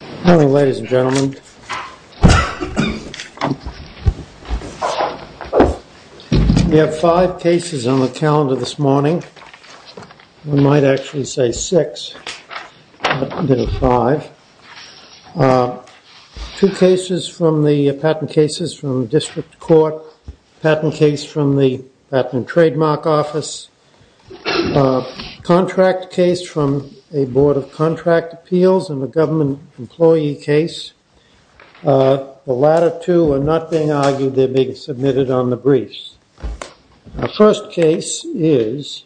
Good morning ladies and gentlemen. We have five cases on the calendar this morning. We might actually say six, but there are five. Two cases from the patent cases from the district court, patent case from the patent trademark office, contract case from a board of contract appeals, and a government employee case. The latter two are not being argued, they're being submitted on the briefs. Our first case is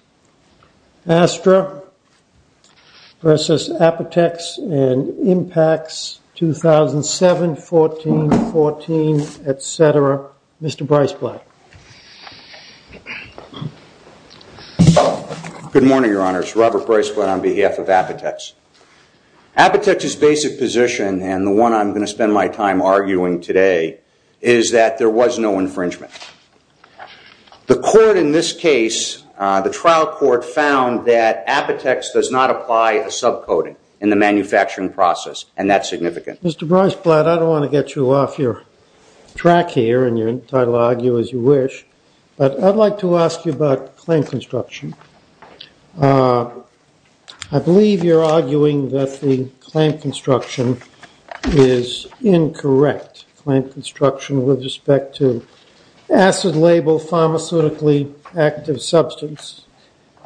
Astra v. Apotex and Impacts, 2007-14-14, etc. Mr. Breisblatt. Good morning, your honors. Robert Breisblatt on behalf of Apotex. Apotex's basic position, and the one I'm going to spend my time arguing today, is that there was no infringement. The court in this case, the trial court, found that Apotex does not apply a subcoding in the manufacturing process, and that's significant. Mr. Breisblatt, I don't want to get you off your track here, and you're entitled to argue as you wish, but I'd like to ask you about the clamp construction. I believe you're arguing that the clamp construction is incorrect, clamp construction with respect to acid-label pharmaceutically active substance.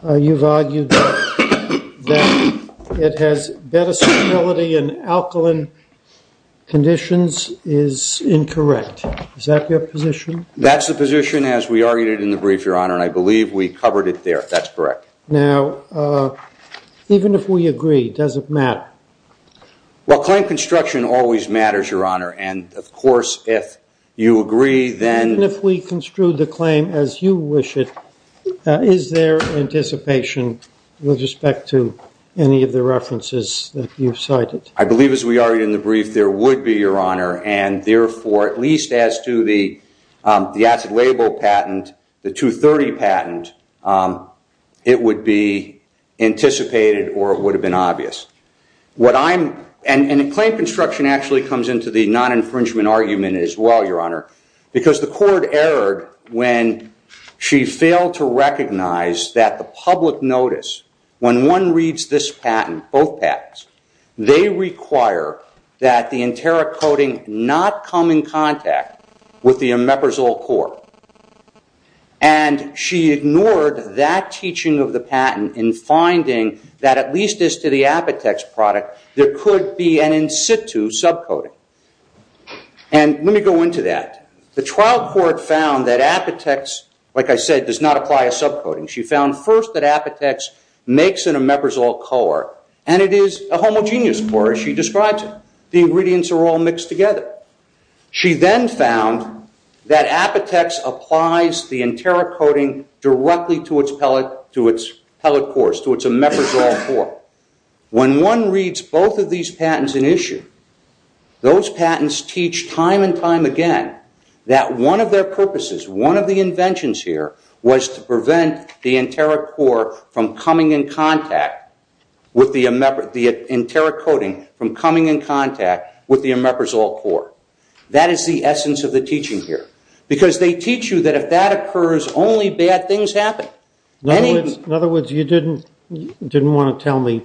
You've argued that it has better stability in alkaline conditions is incorrect. Is that your position? That's the position as we argued it in the brief, your honor, and I believe we covered it there. That's correct. Now, even if we agree, does it matter? Well, clamp construction always matters, your honor, and of course, if you agree, then... Is there anticipation with respect to any of the references that you've cited? I believe, as we argued in the brief, there would be, your honor, and therefore, at least as to the acid-label patent, the 230 patent, it would be anticipated or it would have been obvious. Clamp construction actually comes into the non-infringement argument as well, your honor, because the court erred when she failed to recognize that the public notice, when one reads this patent, both patents, they require that the enteric coating not come in contact with the omeprazole core. And she ignored that teaching of the patent in finding that at least as to the Apotex product, there could be an in-situ subcoating. And let me go into that. The trial court found that Apotex, like I said, does not apply a subcoating. She found first that Apotex makes an omeprazole core, and it is a homogeneous core as she describes it. The ingredients are all mixed together. She then found that Apotex applies the enteric coating directly to its pellet cores, to its omeprazole core. When one reads both of these patents in issue, those patents teach time and time again that one of their purposes, one of the inventions here, was to prevent the enteric core from coming in contact with the omeprazole core. That is the essence of the teaching here. Because they teach you that if that occurs, only bad things happen. In other words, you didn't want to tell me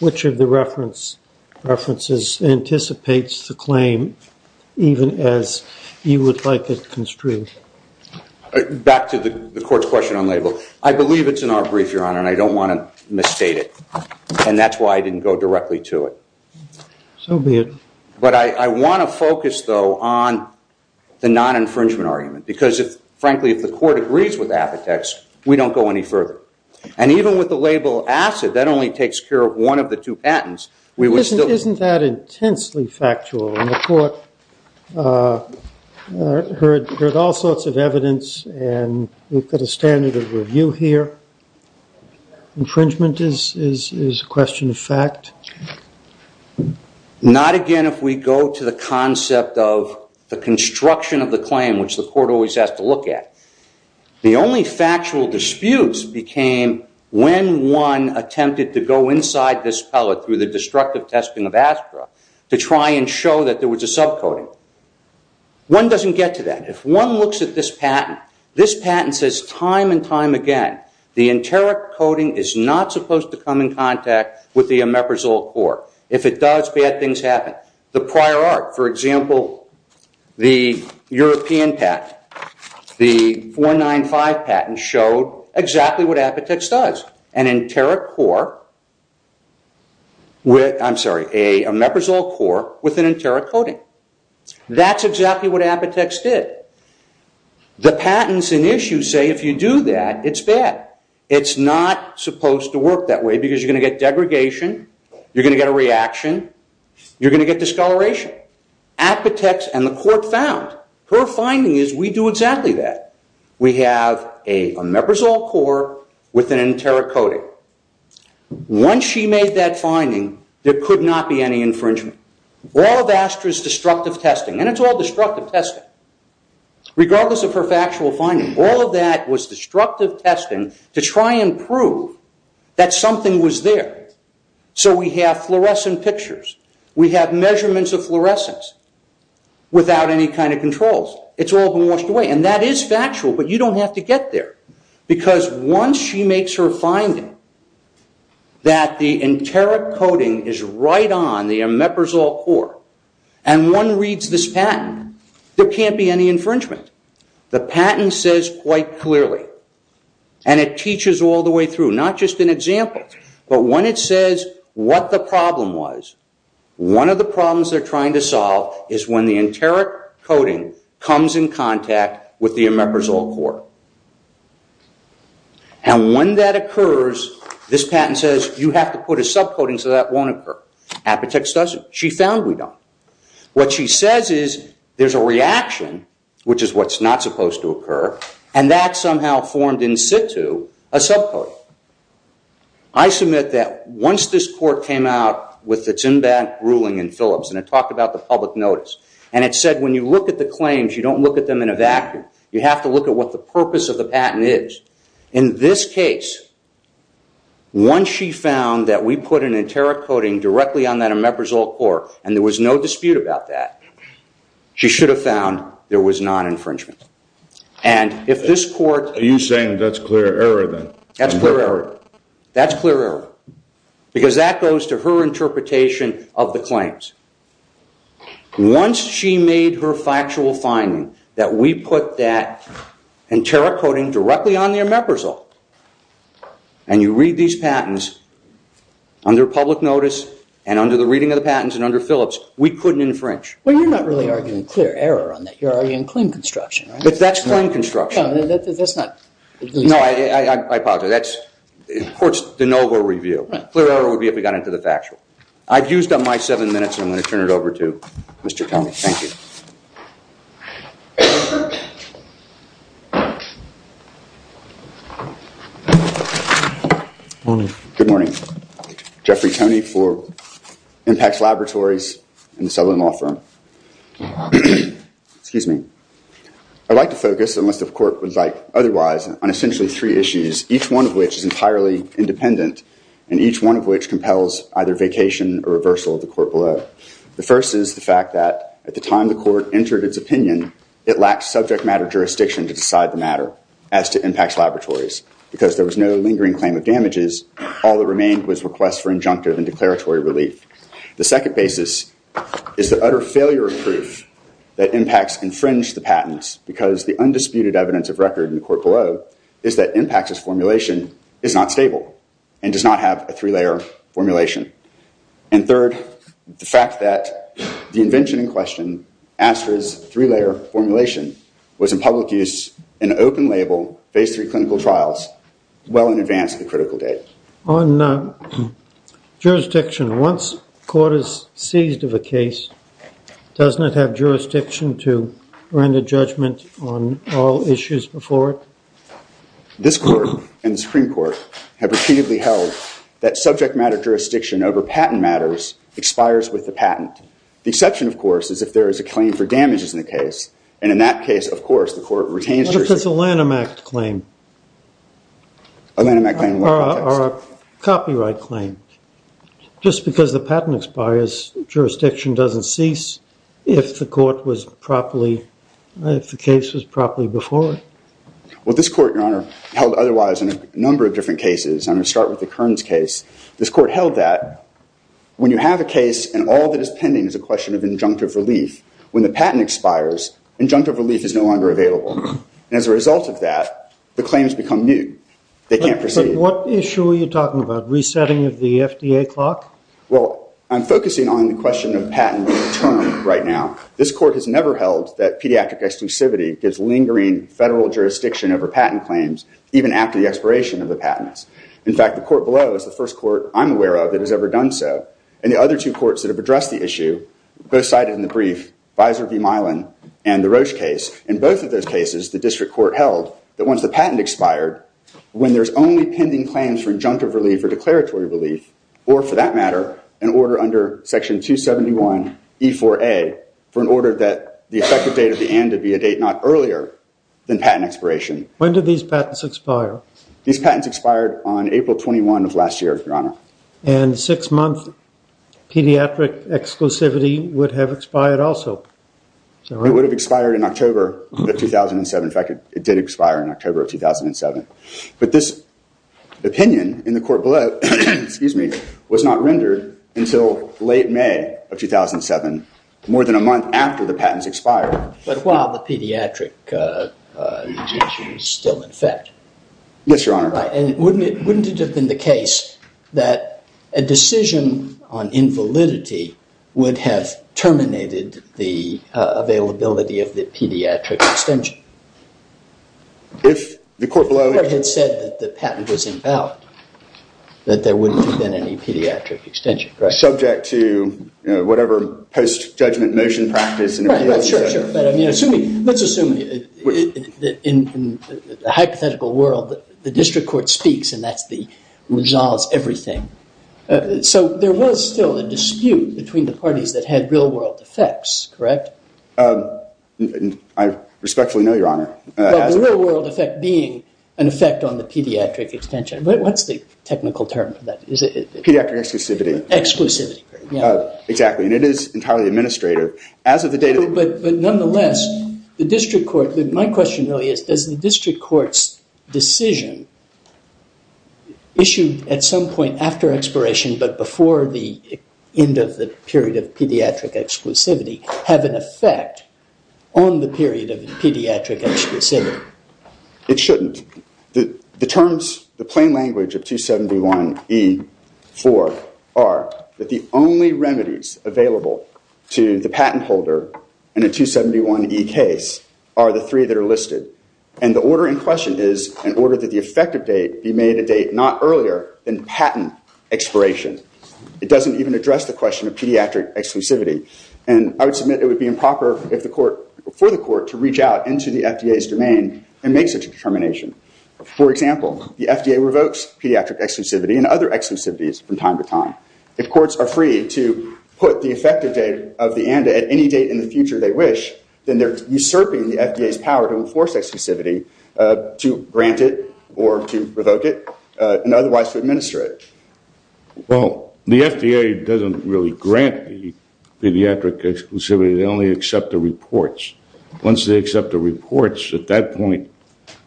which of the references anticipates the claim even as you would like it construed. Back to the court's question on label. I believe it's in our brief, Your Honor, and I don't want to misstate it. And that's why I didn't go directly to it. So be it. But I want to focus, though, on the non-infringement argument. Because frankly, if the court agrees with Apotex, we don't go any further. And even with the label acid, that only takes care of one of the two patents. Isn't that intensely factual? And the court heard all sorts of evidence, and we've got a standard of review here. Infringement is a question of fact. Not again if we go to the concept of the construction of the claim, which the court always has to look at. The only factual disputes became when one attempted to go inside this pellet through the destructive testing of Astra to try and show that there was a sub-coating. One doesn't get to that. If one looks at this patent, this patent says time and time again, the enteric coating is not supposed to come in contact with the omeprazole core. If it does, bad things happen. The prior art, for example, the European patent, the 495 patent, showed exactly what Apotex does. An enteric core, I'm sorry, an omeprazole core with an enteric coating. That's exactly what Apotex did. The patents in issue say if you do that, it's bad. It's not supposed to work that way because you're going to get degradation. You're going to get a reaction. You're going to get discoloration. Apotex and the court found. Her finding is we do exactly that. We have an omeprazole core with an enteric coating. Once she made that finding, there could not be any infringement. All of Astra's destructive testing, and it's all destructive testing, regardless of her factual finding, all of that was destructive testing to try and prove that something was there. We have fluorescent pictures. We have measurements of fluorescence without any kind of controls. It's all been washed away. That is factual, but you don't have to get there. Once she makes her finding that the enteric coating is right on the omeprazole core and one reads this patent, there can't be any infringement. The patent says quite clearly, and it teaches all the way through, not just an example, but when it says what the problem was, one of the problems they're trying to solve is when the enteric coating comes in contact with the omeprazole core. When that occurs, this patent says you have to put a subcoating so that won't occur. Apotex doesn't. She found we don't. What she says is there's a reaction, which is what's not supposed to occur, and that somehow formed in situ a subcoating. I submit that once this court came out with its in-bank ruling in Phillips, and it talked about the public notice, and it said when you look at the claims, you don't look at them in a vacuum. You have to look at what the purpose of the patent is. In this case, once she found that we put an enteric coating directly on that omeprazole core, and there was no dispute about that, she should have found there was non-infringement. Are you saying that's clear error, then? That's clear error, because that goes to her interpretation of the claims. Once she made her factual finding that we put that enteric coating directly on the omeprazole, and you read these patents under public notice and under the reading of the patents and under Phillips, we couldn't infringe. Well, you're not really arguing clear error on that. You're arguing claim construction, right? But that's claim construction. No, that's not. No, I apologize. That's in court's de novo review. Clear error would be if we got into the factual. I've used up my seven minutes, and I'm going to turn it over to Mr. Toney. Thank you. Good morning. Good morning. Jeffrey Toney for Impact Laboratories and the Sutherland Law Firm. Excuse me. I'd like to focus, unless the court would like otherwise, on essentially three issues, each one of which is entirely independent, and each one of which compels either vacation or reversal of the court below. The first is the fact that at the time the court entered its opinion, it lacked subject matter jurisdiction to decide the matter as to Impact Laboratories, because there was no lingering claim of damages. All that remained was requests for injunctive and declaratory relief. The second basis is the utter failure of proof that Impacts infringed the patents, because the undisputed evidence of record in the court below is that Impacts' formulation is not stable and does not have a three-layer formulation. And third, the fact that the invention in question, ASTRA's three-layer formulation, was in public use in an open label, phase three clinical trials, well in advance of the critical date. On jurisdiction, once court is seized of a case, doesn't it have jurisdiction to render judgment on all issues before it? This court and the Supreme Court have repeatedly held that subject matter jurisdiction over patent matters expires with the patent. The exception, of course, is if there is a claim for damages in the case, and in that case, of course, the court retains jurisdiction. What if it's a Lanham Act claim? A Lanham Act claim in what context? Or a copyright claim. Just because the patent expires, jurisdiction doesn't cease if the court was properly, if the case was properly before it? Well, this court, Your Honor, held otherwise in a number of different cases. I'm going to start with the Kearns case. This court held that when you have a case and all that is pending is a question of injunctive relief, when the patent expires, injunctive relief is no longer available. And as a result of that, the claims become new. They can't proceed. What issue are you talking about? Resetting of the FDA clock? Well, I'm focusing on the question of patent term right now. This court has never held that pediatric exclusivity gives lingering federal jurisdiction over patent claims, even after the expiration of the patents. In fact, the court below is the first court I'm aware of that has ever done so. And the other two courts that have addressed the issue, both cited in the brief, Visor v. Milan and the Roche case, in both of those cases, the district court held that once the patent expired, when there's only pending claims for injunctive relief or declaratory relief, or for that matter, an order under Section 271E4A, for an order that the effective date of the end would be a date not earlier than patent expiration. When did these patents expire? These patents expired on April 21 of last year, Your Honor. And six-month pediatric exclusivity would have expired also. It would have expired in October of 2007. In fact, it did expire in October of 2007. But this opinion in the court below was not rendered until late May of 2007, more than a month after the patents expired. But while the pediatric injunction is still in effect? Yes, Your Honor. And wouldn't it have been the case that a decision on invalidity would have terminated the availability of the pediatric extension? If the court below had said that the patent was invalid, that there wouldn't have been any pediatric extension, correct? Subject to whatever post-judgment motion practice. Let's assume that in the hypothetical world, the district court speaks, and that resolves everything. So there was still a dispute between the parties that had real-world effects, correct? I respectfully know, Your Honor. But the real-world effect being an effect on the pediatric extension. What's the technical term for that? Pediatric exclusivity. Exclusivity. Exactly. And it is entirely administrative. But nonetheless, the district court, my question really is, does the district court's decision issued at some point after expiration, but before the end of the period of pediatric exclusivity, have an effect on the period of pediatric exclusivity? It shouldn't. The terms, the plain language of 271E4 are that the only remedies available to the patent holder in a 271E case are the three that are listed. And the order in question is an order that the effective date be made a date not earlier than patent expiration. It doesn't even address the question of pediatric exclusivity. And I would submit it would be improper for the court to reach out into the FDA's domain and make such a determination. For example, the FDA revokes pediatric exclusivity and other exclusivities from time to time. If courts are free to put the effective date of the ANDA at any date in the future they wish, then they're usurping the FDA's power to enforce exclusivity to grant it or to revoke it and otherwise to administer it. Well, the FDA doesn't really grant pediatric exclusivity. They only accept the reports. Once they accept the reports at that point,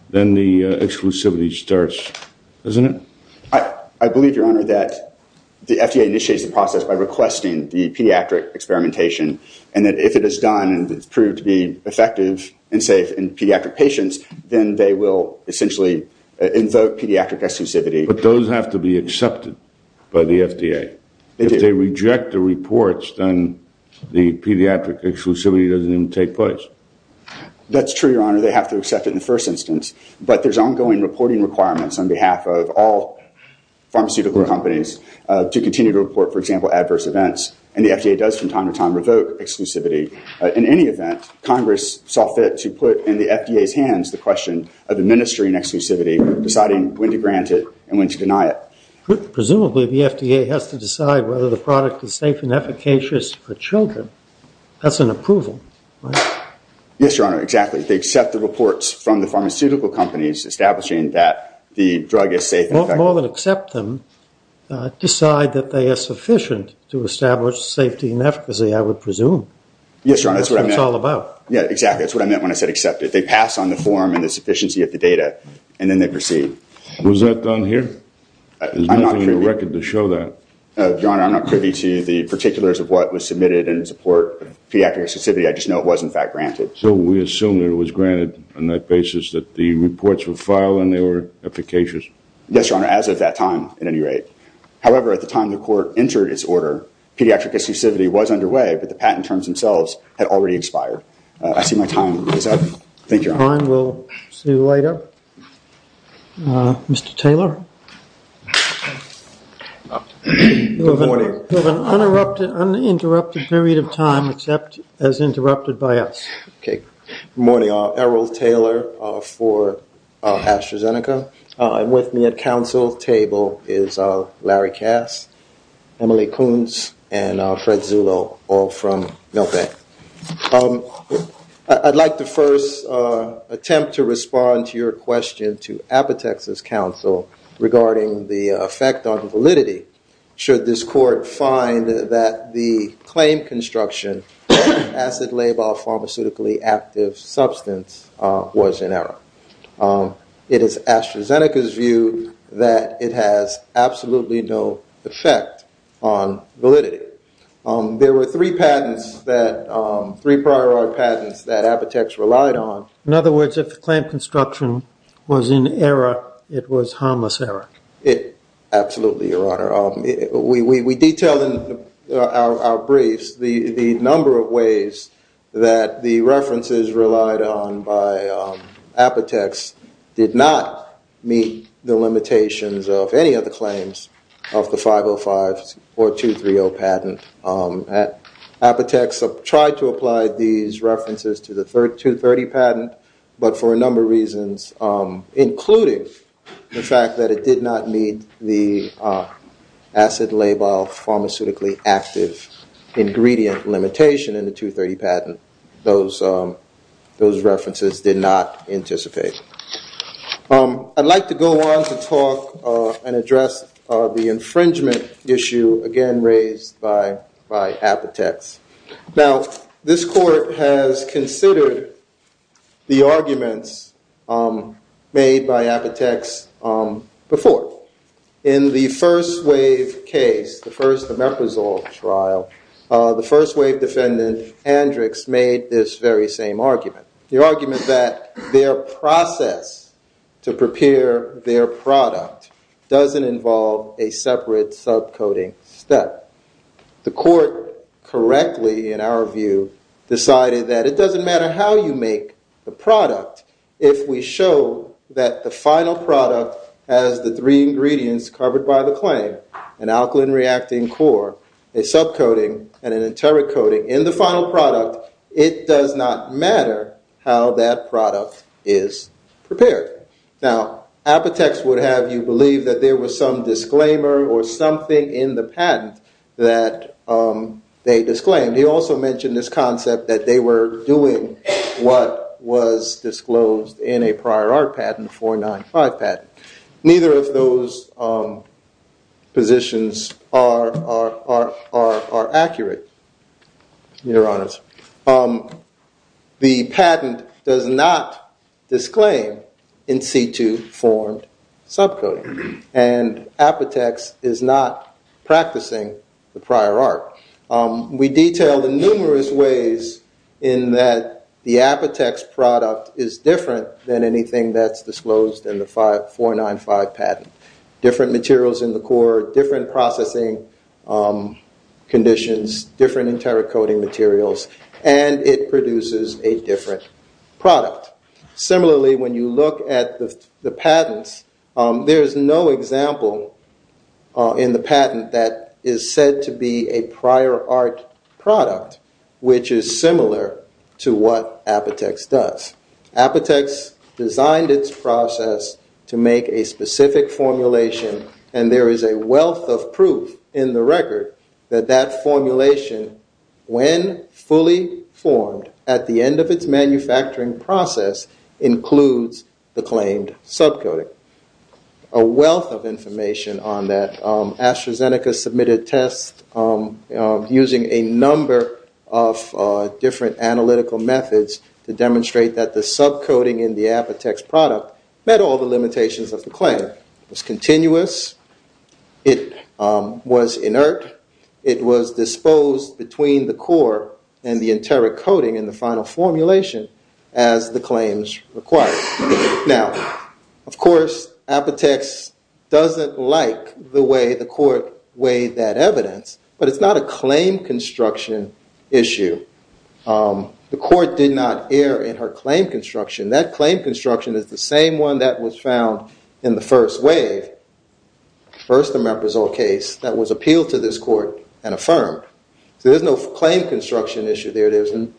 then the exclusivity starts, doesn't it? I believe, Your Honor, that the FDA initiates the process by requesting the pediatric experimentation and that if it is done and it's proved to be effective and safe in pediatric patients, then they will essentially invoke pediatric exclusivity. But those have to be accepted by the FDA. If they reject the reports, then the pediatric exclusivity doesn't even take place. That's true, Your Honor. They have to accept it in the first instance. But there's ongoing reporting requirements on behalf of all pharmaceutical companies to continue to report, for example, adverse events, and the FDA does from time to time revoke exclusivity. In any event, Congress saw fit to put in the FDA's hands the question of administering exclusivity, deciding when to grant it and when to deny it. Presumably the FDA has to decide whether the product is safe and efficacious for children. That's an approval, right? Yes, Your Honor, exactly. They accept the reports from the pharmaceutical companies establishing that the drug is safe and effective. More than accept them, decide that they are sufficient to establish safety and efficacy, I would presume. Yes, Your Honor, that's what I meant. That's what it's all about. Yeah, exactly. That's what I meant when I said accept it. They pass on the form and the sufficiency of the data, and then they proceed. Was that done here? There's nothing on the record to show that. Your Honor, I'm not privy to the particulars of what was submitted in support of pediatric exclusivity. I just know it was, in fact, granted. So we assume that it was granted on that basis that the reports were filed and they were efficacious? Yes, Your Honor, as of that time, at any rate. However, at the time the court entered its order, pediatric exclusivity was underway, but the patent terms themselves had already expired. I see my time is up. Thank you, Your Honor. Time will see you later. Mr. Taylor? Good morning. You have an uninterrupted period of time, except as interrupted by us. Okay. Good morning. Errol Taylor for AstraZeneca. With me at counsel's table is Larry Cass, Emily Koontz, and Fred Zullo, all from Milbank. I'd like to first attempt to respond to your question to Apotex's counsel regarding the effect on validity. Should this court find that the claim construction of acid labile pharmaceutically active substance was in error? It is AstraZeneca's view that it has absolutely no effect on validity. There were three patents, three prior art patents, that Apotex relied on. In other words, if the claim construction was in error, it was harmless error? Absolutely, Your Honor. We detail in our briefs the number of ways that the references relied on by Apotex did not meet the limitations of any of the claims of the 505 or 230 patent. Apotex tried to apply these references to the 230 patent, but for a number of reasons, including the fact that it did not meet the acid labile pharmaceutically active ingredient limitation in the 230 patent, those references did not anticipate. I'd like to go on to talk and address the infringement issue again raised by Apotex. Now, this court has considered the arguments made by Apotex before. In the first wave case, the first omeprazole trial, the first wave defendant, Hendricks, made this very same argument. The argument that their process to prepare their product doesn't involve a separate sub-coating step. The court correctly, in our view, decided that it doesn't matter how you make the product if we show that the final product has the three ingredients covered by the claim, an alkaline reacting core, a sub-coating, and an enteric coating in the final product, it does not matter how that product is prepared. Now, Apotex would have you believe that there was some disclaimer or something in the patent that they disclaimed. He also mentioned this concept that they were doing what was disclosed in a prior art patent, 495 patent. Neither of those positions are accurate, Your Honors. The patent does not disclaim in situ formed sub-coating. And Apotex is not practicing the prior art. We detailed in numerous ways in that the Apotex product is different than anything that's disclosed in the 495 patent. Different materials in the core, different processing conditions, different enteric coating materials, and it produces a different product. Similarly, when you look at the patents, there is no example in the patent that is said to be a prior art product, which is similar to what Apotex does. Apotex designed its process to make a specific formulation, and there is a wealth of proof in the record that that formulation, when fully formed at the end of its manufacturing process, includes the claimed sub-coating. A wealth of information on that. AstraZeneca submitted tests using a number of different analytical methods to demonstrate that the sub-coating in the Apotex product met all the limitations of the claim. It was continuous. It was inert. It was disposed between the core and the enteric coating in the final formulation as the claims required. Now, of course, Apotex doesn't like the way the court weighed that evidence, but it's not a claim construction issue. The court did not err in her claim construction. That claim construction is the same one that was found in the first wave, the first Imeprazole case, that was appealed to this court and affirmed. So there's no claim construction issue there. There's an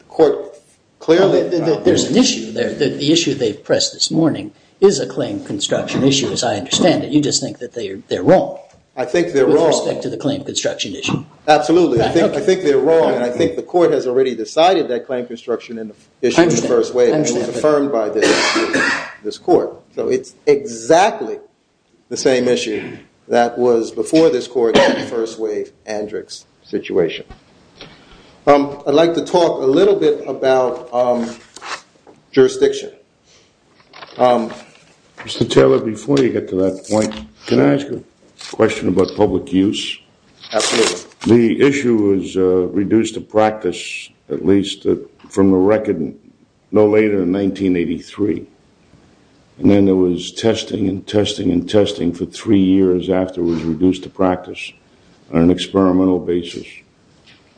issue there. The issue they've pressed this morning is a claim construction issue, as I understand it. You just think that they're wrong. I think they're wrong. With respect to the claim construction issue. Absolutely. I think they're wrong. And I think the court has already decided that claim construction issue in the first wave. It was affirmed by this court. So it's exactly the same issue that was before this court in the first wave Andrix situation. I'd like to talk a little bit about jurisdiction. Mr. Taylor, before you get to that point, can I ask a question about public use? Absolutely. The issue was reduced to practice, at least from the record, no later than 1983. And then there was testing and testing and testing for three years afterwards, reduced to practice on an experimental basis.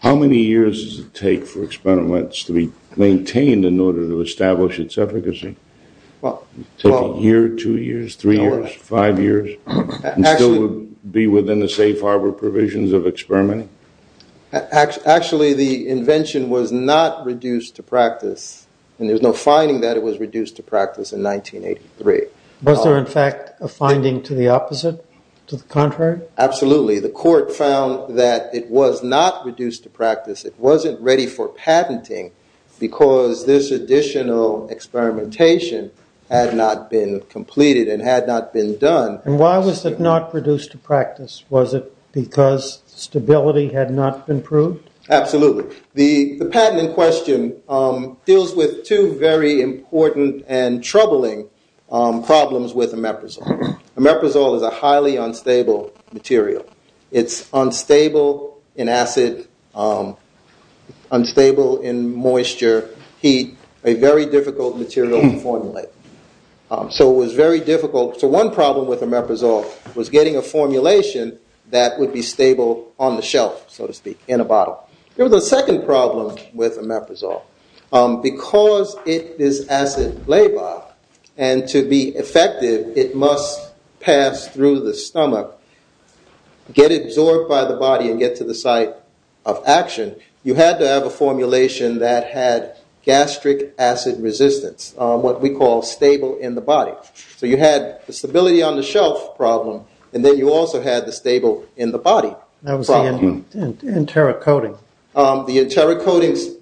How many years does it take for experiments to be maintained in order to establish its efficacy? A year, two years, three years, five years? And still be within the safe harbor provisions of experimenting? Actually, the invention was not reduced to practice. And there's no finding that it was reduced to practice in 1983. Was there, in fact, a finding to the opposite, to the contrary? Absolutely. The court found that it was not reduced to practice. It wasn't ready for patenting because this additional experimentation had not been completed and had not been done. And why was it not reduced to practice? Was it because stability had not been proved? Absolutely. The patent in question deals with two very important and troubling problems with omeprazole. Omeprazole is a highly unstable material. It's unstable in acid, unstable in moisture, heat, a very difficult material to formulate. So it was very difficult. So one problem with omeprazole was getting a formulation that would be stable on the shelf, so to speak, in a bottle. There was a second problem with omeprazole. Because it is acid labile and to be effective it must pass through the stomach, get absorbed by the body and get to the site of action, you had to have a formulation that had gastric acid resistance, what we call stable in the body. So you had the stability on the shelf problem and then you also had the stable in the body problem. That was the enterocoding. The enterocodings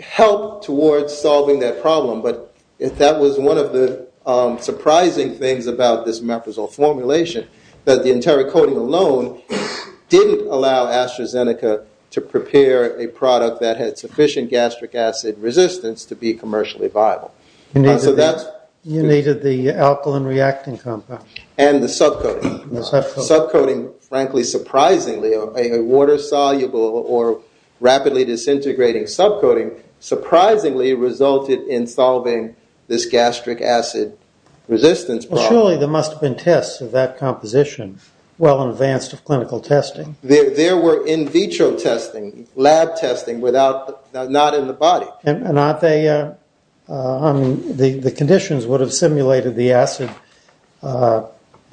helped towards solving that problem, but that was one of the surprising things about this omeprazole formulation, that the enterocoding alone didn't allow AstraZeneca to prepare a product that had sufficient gastric acid resistance to be commercially viable. You needed the alkaline reacting compound. And the subcoating. The subcoating. Subcoating, frankly, surprisingly, a water-soluble or rapidly disintegrating subcoating surprisingly resulted in solving this gastric acid resistance problem. Surely there must have been tests of that composition well in advance of clinical testing. There were in vitro testing, lab testing, not in the body. And the conditions would have simulated the acid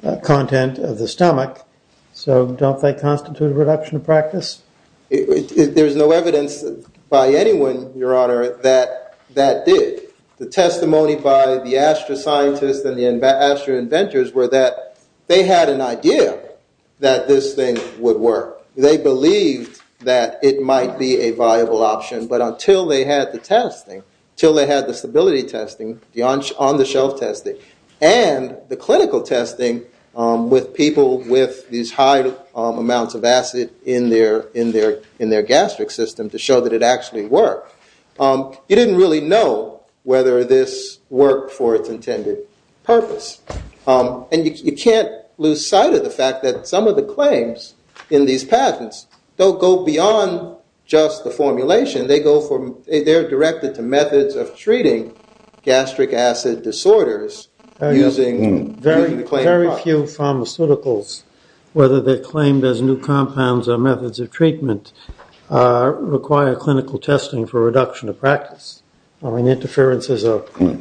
content of the stomach, so don't they constitute a reduction of practice? There's no evidence by anyone, Your Honor, that that did. The testimony by the Astra scientists and the Astra inventors were that they had an idea that this thing would work. They believed that it might be a viable option. But until they had the testing, until they had the stability testing, the on-the-shelf testing, and the clinical testing with people with these high amounts of acid in their gastric system to show that it actually worked, you didn't really know whether this worked for its intended purpose. And you can't lose sight of the fact that some of the claims in these patents don't go beyond just the formulation. They go from they're directed to methods of treating gastric acid disorders. Very few pharmaceuticals, whether they're claimed as new compounds or methods of treatment, require clinical testing for reduction of practice. I mean, interferences are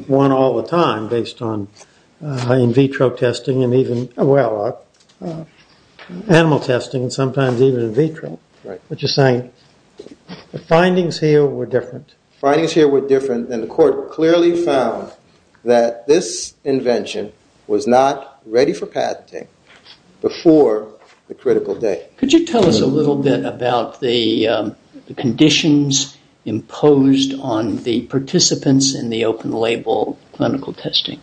one all the time based on in vitro testing and even animal testing, and sometimes even in vitro, which is saying the findings here were different. Findings here were different, and the court clearly found that this invention was not ready for patenting before the critical day. Could you tell us a little bit about the conditions imposed on the participants in the open-label clinical testing?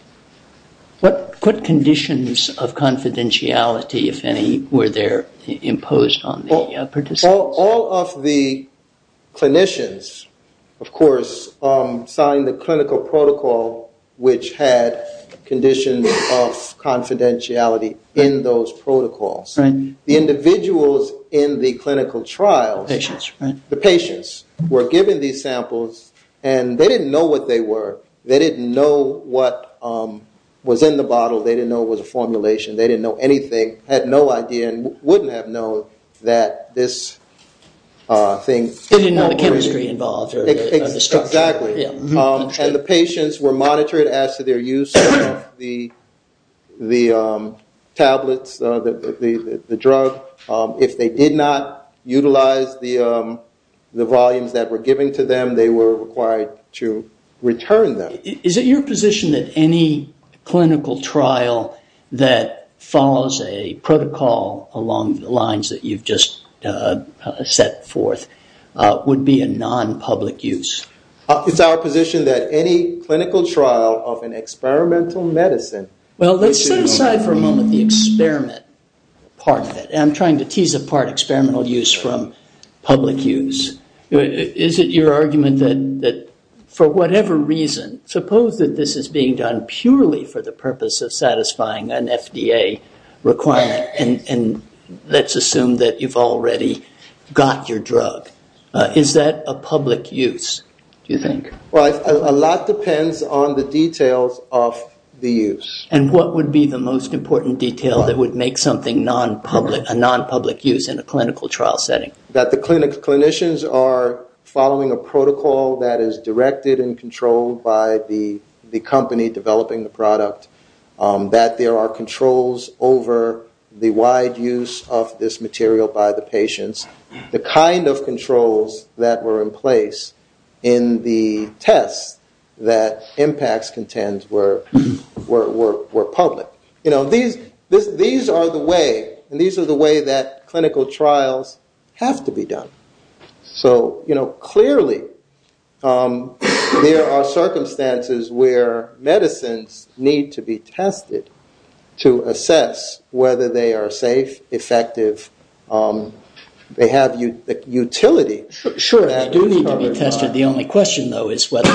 What conditions of confidentiality, if any, were there imposed on the participants? All of the clinicians, of course, signed the clinical protocol, which had conditions of confidentiality in those protocols. The individuals in the clinical trial, the patients, were given these samples, and they didn't know what they were. They didn't know what was in the bottle. They didn't know it was a formulation. They didn't know anything, had no idea, and wouldn't have known that this thing- They didn't know the chemistry involved or the structure. Exactly. And the patients were monitored as to their use of the tablets, the drug. If they did not utilize the volumes that were given to them, they were required to return them. Is it your position that any clinical trial that follows a protocol along the lines that you've just set forth would be a non-public use? It's our position that any clinical trial of an experimental medicine- Well, let's set aside for a moment the experiment part of it. I'm trying to tease apart experimental use from public use. Is it your argument that for whatever reason, suppose that this is being done purely for the purpose of satisfying an FDA requirement, and let's assume that you've already got your drug. Is that a public use, do you think? Well, a lot depends on the details of the use. And what would be the most important detail that would make something a non-public use in a clinical trial setting? That the clinicians are following a protocol that is directed and controlled by the company developing the product, that there are controls over the wide use of this material by the patients, the kind of controls that were in place in the tests that impacts contend were public. These are the way that clinical trials have to be done. So clearly there are circumstances where medicines need to be tested to assess whether they are safe, effective, they have utility. Sure, they do need to be tested. The only question, though, is whether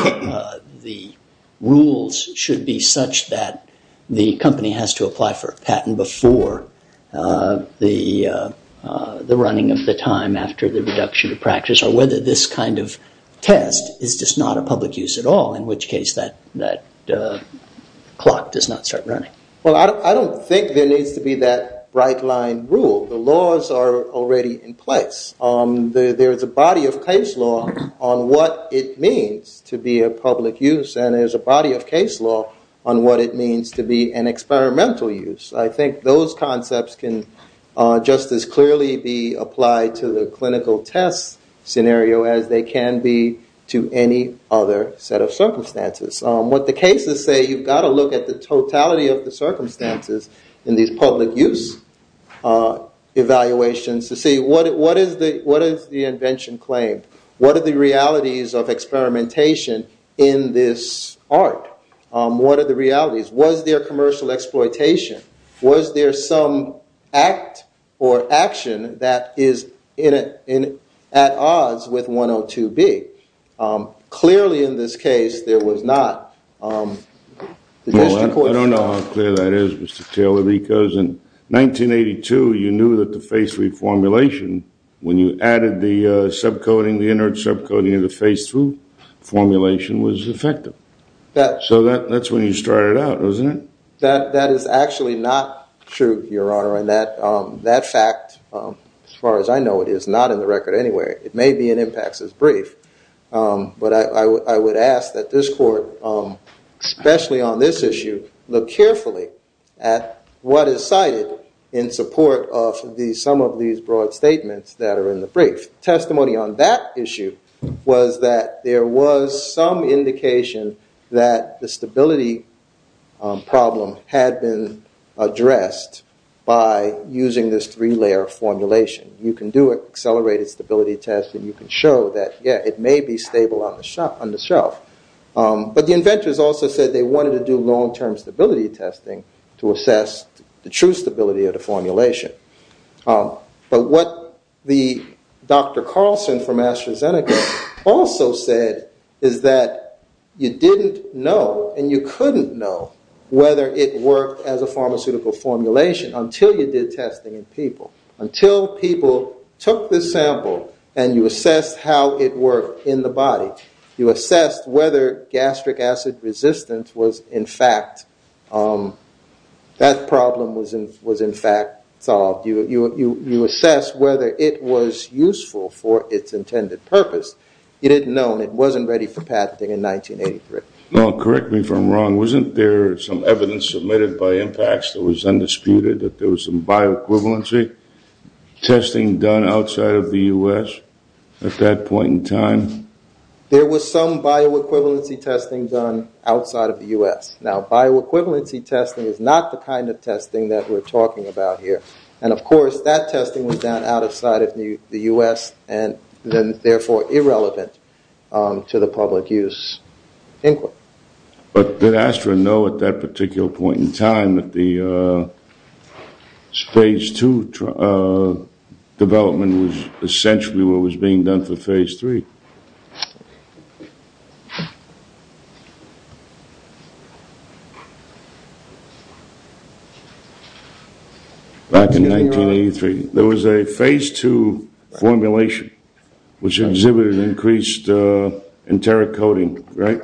the rules should be such that the company has to apply for a patent before the running of the time after the reduction of practice, or whether this kind of test is just not a public use at all, in which case that clock does not start running. Well, I don't think there needs to be that bright line rule. The laws are already in place. There is a body of case law on what it means to be a public use, and there's a body of case law on what it means to be an experimental use. I think those concepts can just as clearly be applied to the clinical test scenario as they can be to any other set of circumstances. What the cases say, you've got to look at the totality of the circumstances in these public use evaluations to see what is the invention claimed? What are the realities of experimentation in this art? What are the realities? Was there commercial exploitation? Was there some act or action that is at odds with 102B? Clearly in this case there was not. I don't know how clear that is, Mr. Taylor, because in 1982 you knew that the face reformulation, when you added the subcoding, the inert subcoding of the face through formulation was effective. So that's when you started out, wasn't it? That is actually not true, Your Honor. And that fact, as far as I know, is not in the record anyway. It may be in impacts as brief. But I would ask that this court, especially on this issue, look carefully at what is cited in support of some of these broad statements that are in the brief. Testimony on that issue was that there was some indication that the stability problem had been addressed by using this three-layer formulation. You can do an accelerated stability test and you can show that, yeah, it may be stable on the shelf. But the inventors also said they wanted to do long-term stability testing to assess the true stability of the formulation. But what Dr. Carlson from AstraZeneca also said is that you didn't know and you couldn't know whether it worked as a pharmaceutical formulation until you did testing in people. Until people took the sample and you assessed how it worked in the body. You assessed whether gastric acid resistance was, in fact, that problem was, in fact, solved. You assessed whether it was useful for its intended purpose. You didn't know and it wasn't ready for patenting in 1983. Correct me if I'm wrong. Wasn't there some evidence submitted by impacts that was undisputed that there was some bioequivalency testing done outside of the U.S. at that point in time? There was some bioequivalency testing done outside of the U.S. Now, bioequivalency testing is not the kind of testing that we're talking about here. And, of course, that testing was done outside of the U.S. and therefore irrelevant to the public use inquiry. But did Astra know at that particular point in time that the Phase II development was essentially what was being done for Phase III? Back in 1983, there was a Phase II formulation which exhibited increased enteric coding, right,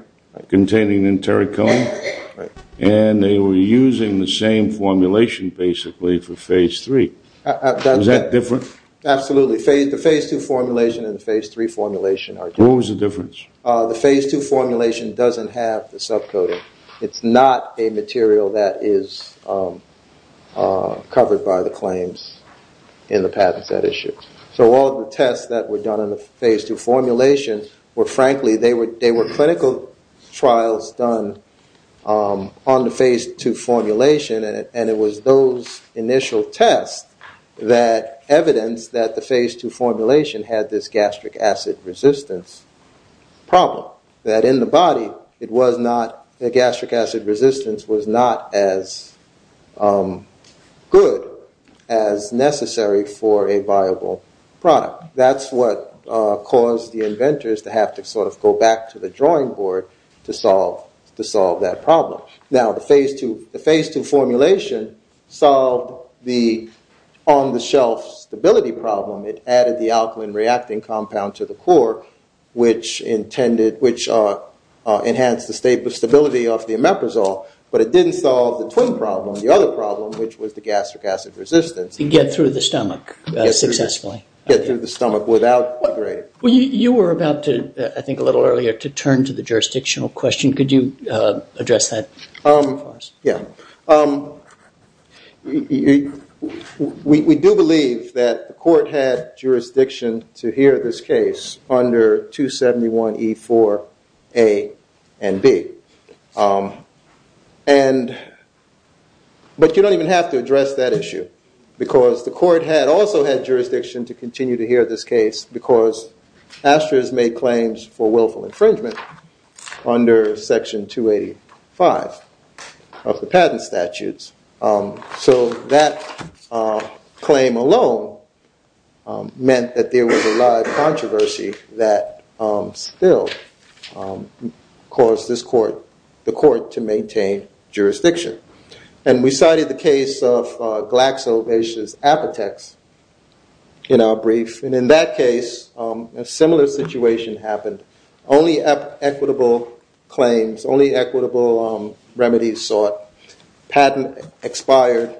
containing enteric code. And they were using the same formulation, basically, for Phase III. Was that different? Absolutely. The Phase II formulation and the Phase III formulation are different. What was the difference? The Phase II formulation doesn't have the subcoding. It's not a material that is covered by the claims in the patents that issue. So all the tests that were done in the Phase II formulation were, frankly, they were clinical trials done on the Phase II formulation. And it was those initial tests that evidenced that the Phase II formulation had this gastric acid resistance problem, that in the body, the gastric acid resistance was not as good as necessary for a viable product. That's what caused the inventors to have to sort of go back to the drawing board to solve that problem. Now, the Phase II formulation solved the on-the-shelf stability problem. It added the alkaline reacting compound to the core, which enhanced the stability of the omeprazole. But it didn't solve the twin problem, the other problem, which was the gastric acid resistance. To get through the stomach successfully. Get through the stomach without degrading. You were about to, I think a little earlier, to turn to the jurisdictional question. Could you address that for us? Yeah. We do believe that the court had jurisdiction to hear this case under 271E4A and B. But you don't even have to address that issue, because the court had also had jurisdiction to continue to hear this case, because Astra has made claims for willful infringement under Section 285 of the patent statutes. So that claim alone meant that there was a lot of controversy that still caused the court to maintain jurisdiction. And we cited the case of GlaxoBase's Apotex in our brief. And in that case, a similar situation happened. Only equitable claims, only equitable remedies sought. Patent expired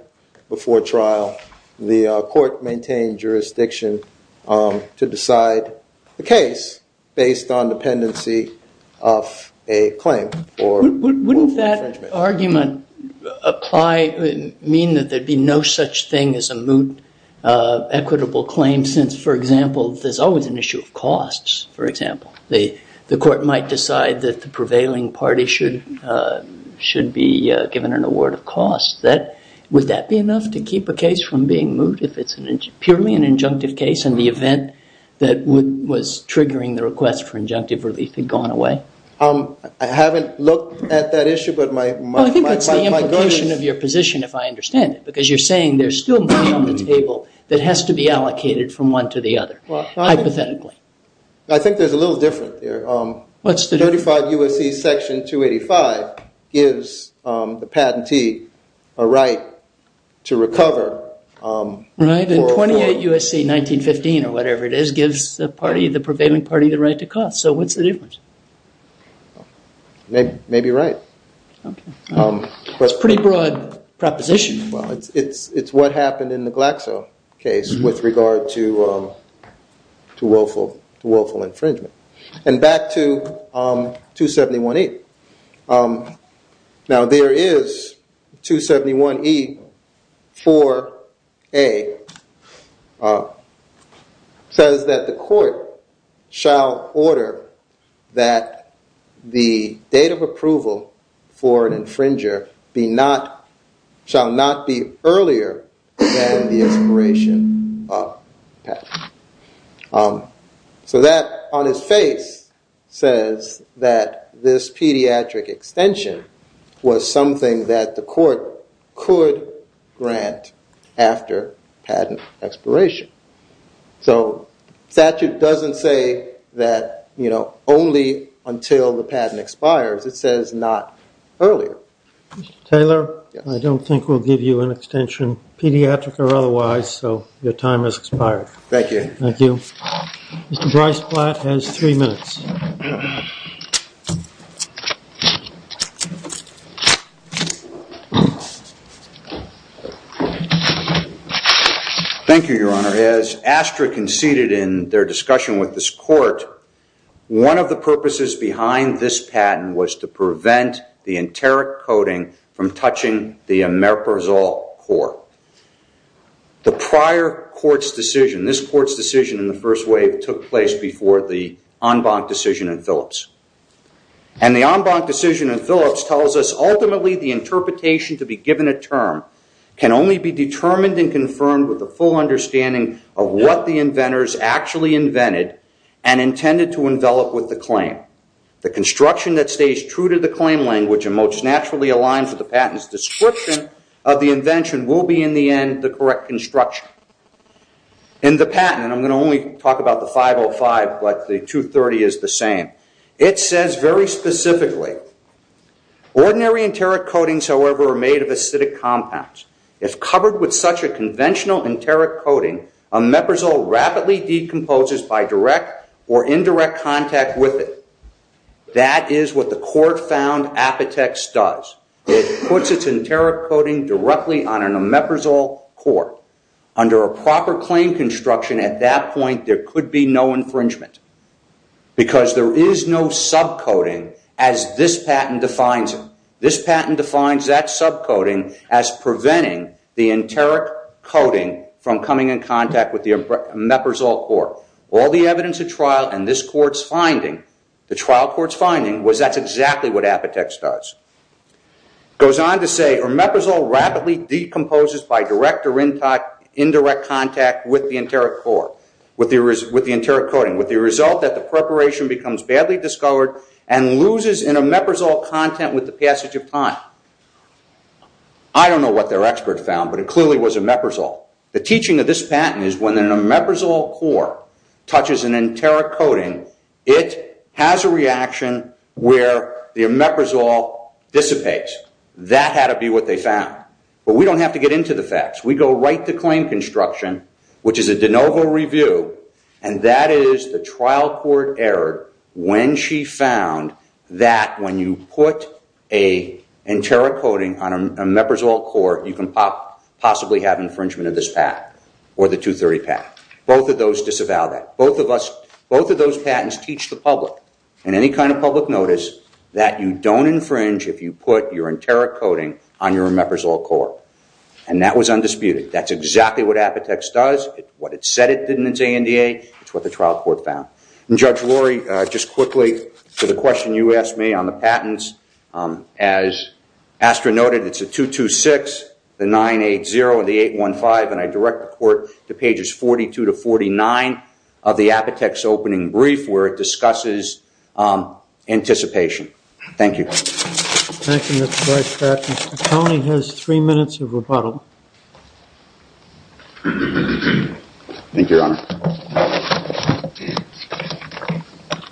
before trial. The court maintained jurisdiction to decide the case based on dependency of a claim for willful infringement. Does the argument mean that there'd be no such thing as a moot equitable claim, since, for example, there's always an issue of costs? For example, the court might decide that the prevailing party should be given an award of costs. Would that be enough to keep a case from being moot if it's purely an injunctive case, and the event that was triggering the request for injunctive relief had gone away? I haven't looked at that issue. I think that's the implication of your position, if I understand it. Because you're saying there's still money on the table that has to be allocated from one to the other, hypothetically. I think there's a little difference there. 35 U.S.C. Section 285 gives the patentee a right to recover. Right. And 28 U.S.C. 1915, or whatever it is, gives the prevailing party the right to cost. So what's the difference? Maybe right. That's a pretty broad proposition. Well, it's what happened in the Glaxo case with regard to woeful infringement. And back to 271E. Now, there is 271E, 4A, says that the court shall order that the date of approval for an infringer shall not be earlier than the expiration of the patent. So that, on its face, says that this pediatric extension was something that the court could grant after patent expiration. So statute doesn't say that only until the patent expires. It says not earlier. Mr. Taylor, I don't think we'll give you an extension, pediatric or otherwise, so your time has expired. Thank you. Thank you. Mr. Bryce Platt has three minutes. Thank you, Your Honor. As ASTRA conceded in their discussion with this court, one of the purposes behind this patent was to prevent the enteric coating from touching the emerprizol core. The prior court's decision, this court's decision in the first wave, took place before the en banc decision in Phillips. And the en banc decision in Phillips tells us, ultimately, the interpretation to be given a term can only be determined and confirmed with a full understanding of what the inventors actually invented and intended to envelop with the claim. The construction that stays true to the claim language and most naturally aligns with the patent's description of the invention will be, in the end, the correct construction. In the patent, I'm going to only talk about the 505, but the 230 is the same. It says very specifically, ordinary enteric coatings, however, are made of acidic compounds. If covered with such a conventional enteric coating, emerprizol rapidly decomposes by direct or indirect contact with it. That is what the court found Apotex does. It puts its enteric coating directly on an emerprizol core. Under a proper claim construction at that point, there could be no infringement because there is no subcoating as this patent defines it. As preventing the enteric coating from coming in contact with the emerprizol core. All the evidence of trial in this court's finding, the trial court's finding, was that's exactly what Apotex does. It goes on to say, emerprizol rapidly decomposes by direct or indirect contact with the enteric coating. With the result that the preparation becomes badly discovered and loses emerprizol content with the passage of time. I don't know what their expert found, but it clearly was emerprizol. The teaching of this patent is when an emerprizol core touches an enteric coating, it has a reaction where the emerprizol dissipates. That had to be what they found. But we don't have to get into the facts. We go right to claim construction, which is a de novo review, and that is the trial court error when she found that when you put an enteric coating on an emerprizol core, you can possibly have infringement of this patent or the 230 patent. Both of those disavow that. Both of those patents teach the public in any kind of public notice that you don't infringe if you put your enteric coating on your emerprizol core. And that was undisputed. That's exactly what Apotex does. What it said it did in its ANDA. It's what the trial court found. And Judge Rory, just quickly to the question you asked me on the patents. As Astra noted, it's a 226, the 980, and the 815. And I direct the court to pages 42 to 49 of the Apotex opening brief where it discusses anticipation. Thank you. Thank you, Mr. Vice President. Tony has three minutes of rebuttal. Thank you, Your Honor.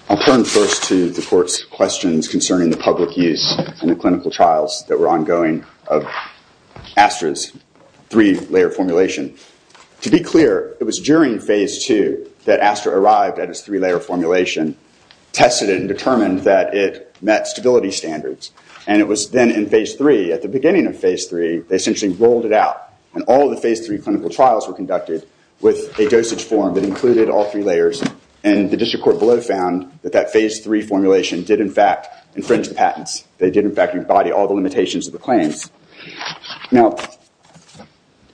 I'll turn first to the court's questions concerning the public use and the clinical trials that were ongoing of Astra's three-layer formulation. To be clear, it was during phase two that Astra arrived at its three-layer formulation, tested it, and determined that it met stability standards. And it was then in phase three, at the beginning of phase three, they essentially rolled it out. And all of the phase three clinical trials were conducted with a dosage form that included all three layers. And the district court below found that that phase three formulation did, in fact, infringe the patents. They did, in fact, embody all the limitations of the claims. Now,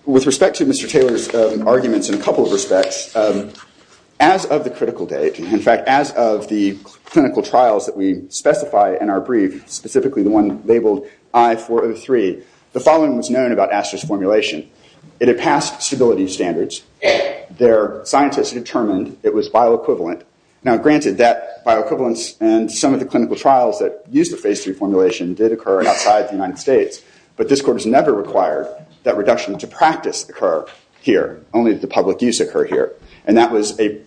with respect to Mr. Taylor's arguments in a couple of respects, as of the critical date, In fact, as of the clinical trials that we specify in our brief, specifically the one labeled I-403, the following was known about Astra's formulation. It had passed stability standards. Their scientists determined it was bioequivalent. Now, granted, that bioequivalence and some of the clinical trials that used the phase three formulation did occur outside the United States. But this court has never required that reduction to practice occur here, only the public use occur here. And that was a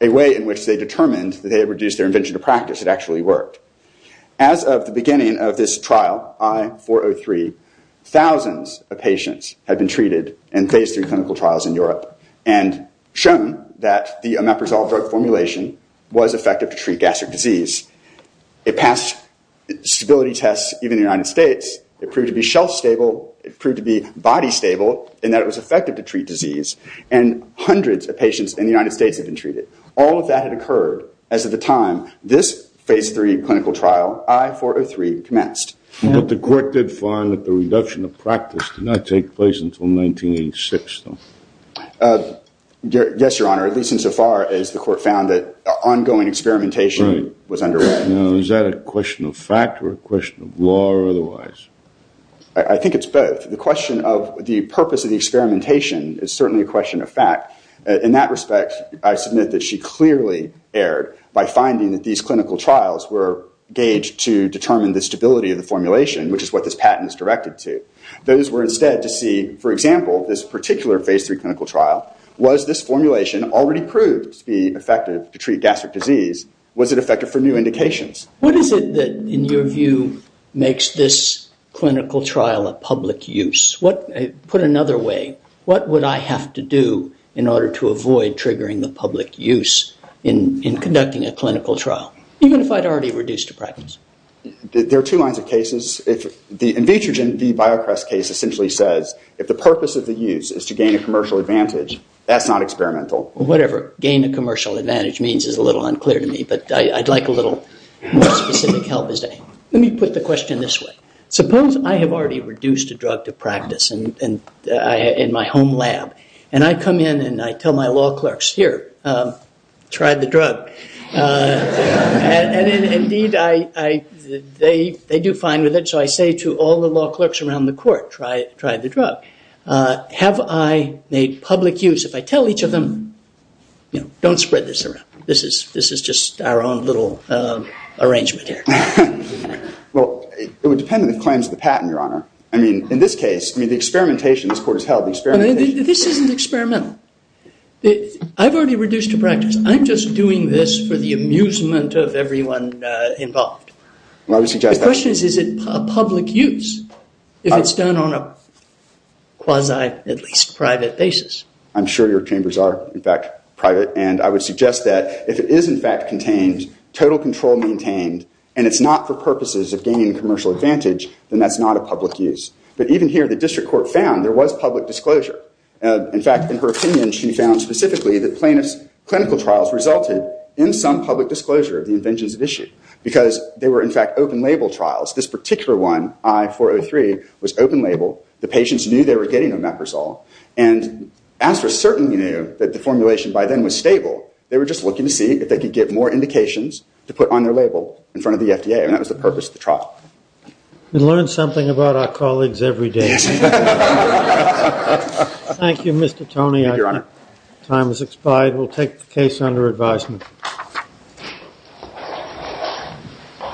way in which they determined that they had reduced their invention to practice. It actually worked. As of the beginning of this trial, I-403, thousands of patients had been treated in phase three clinical trials in Europe and shown that the omeprazole drug formulation was effective to treat gastric disease. It passed stability tests even in the United States. It proved to be shelf-stable. It proved to be body-stable in that it was effective to treat disease. And hundreds of patients in the United States had been treated. All of that had occurred as of the time this phase three clinical trial, I-403, commenced. But the court did find that the reduction of practice did not take place until 1986, though. Yes, Your Honor, at least insofar as the court found that ongoing experimentation was underway. Now, is that a question of fact or a question of law or otherwise? I think it's both. The question of the purpose of the experimentation is certainly a question of fact. In that respect, I submit that she clearly erred by finding that these clinical trials were gauged to determine the stability of the formulation, which is what this patent is directed to. Those were instead to see, for example, this particular phase three clinical trial. Was this formulation already proved to be effective to treat gastric disease? Was it effective for new indications? What is it that, in your view, makes this clinical trial a public use? Put another way, what would I have to do in order to avoid triggering the public use in conducting a clinical trial, even if I'd already reduced to practice? There are two lines of cases. In vitrogen, the BioQuest case essentially says if the purpose of the use is to gain a commercial advantage, that's not experimental. Whatever gain a commercial advantage means is a little unclear to me. But I'd like a little more specific help. Let me put the question this way. Suppose I have already reduced a drug to practice in my home lab. And I come in and I tell my law clerks, here, try the drug. And indeed, they do fine with it. So I say to all the law clerks around the court, try the drug. Have I made public use? If I tell each of them, don't spread this around. This is just our own little arrangement here. Well, it would depend on the claims of the patent, Your Honor. I mean, in this case, the experimentation this court has held, the experimentation. This isn't experimental. I've already reduced to practice. I'm just doing this for the amusement of everyone involved. Well, I would suggest that. My question is, is it public use if it's done on a quasi, at least, private basis? I'm sure your chambers are, in fact, private. And I would suggest that if it is, in fact, contained, total control maintained, and it's not for purposes of gaining a commercial advantage, then that's not a public use. But even here, the district court found there was public disclosure. In fact, in her opinion, she found specifically that plaintiff's clinical trials resulted in some public disclosure of the inventions at issue because they were, in fact, open-label trials. This particular one, I-403, was open-label. The patients knew they were getting Omeprazole. And Astra certainly knew that the formulation by then was stable. They were just looking to see if they could get more indications to put on their label in front of the FDA. And that was the purpose of the trial. We learn something about our colleagues every day. Thank you, Mr. Toney. Your Honor. Time has expired. We'll take the case under advisement.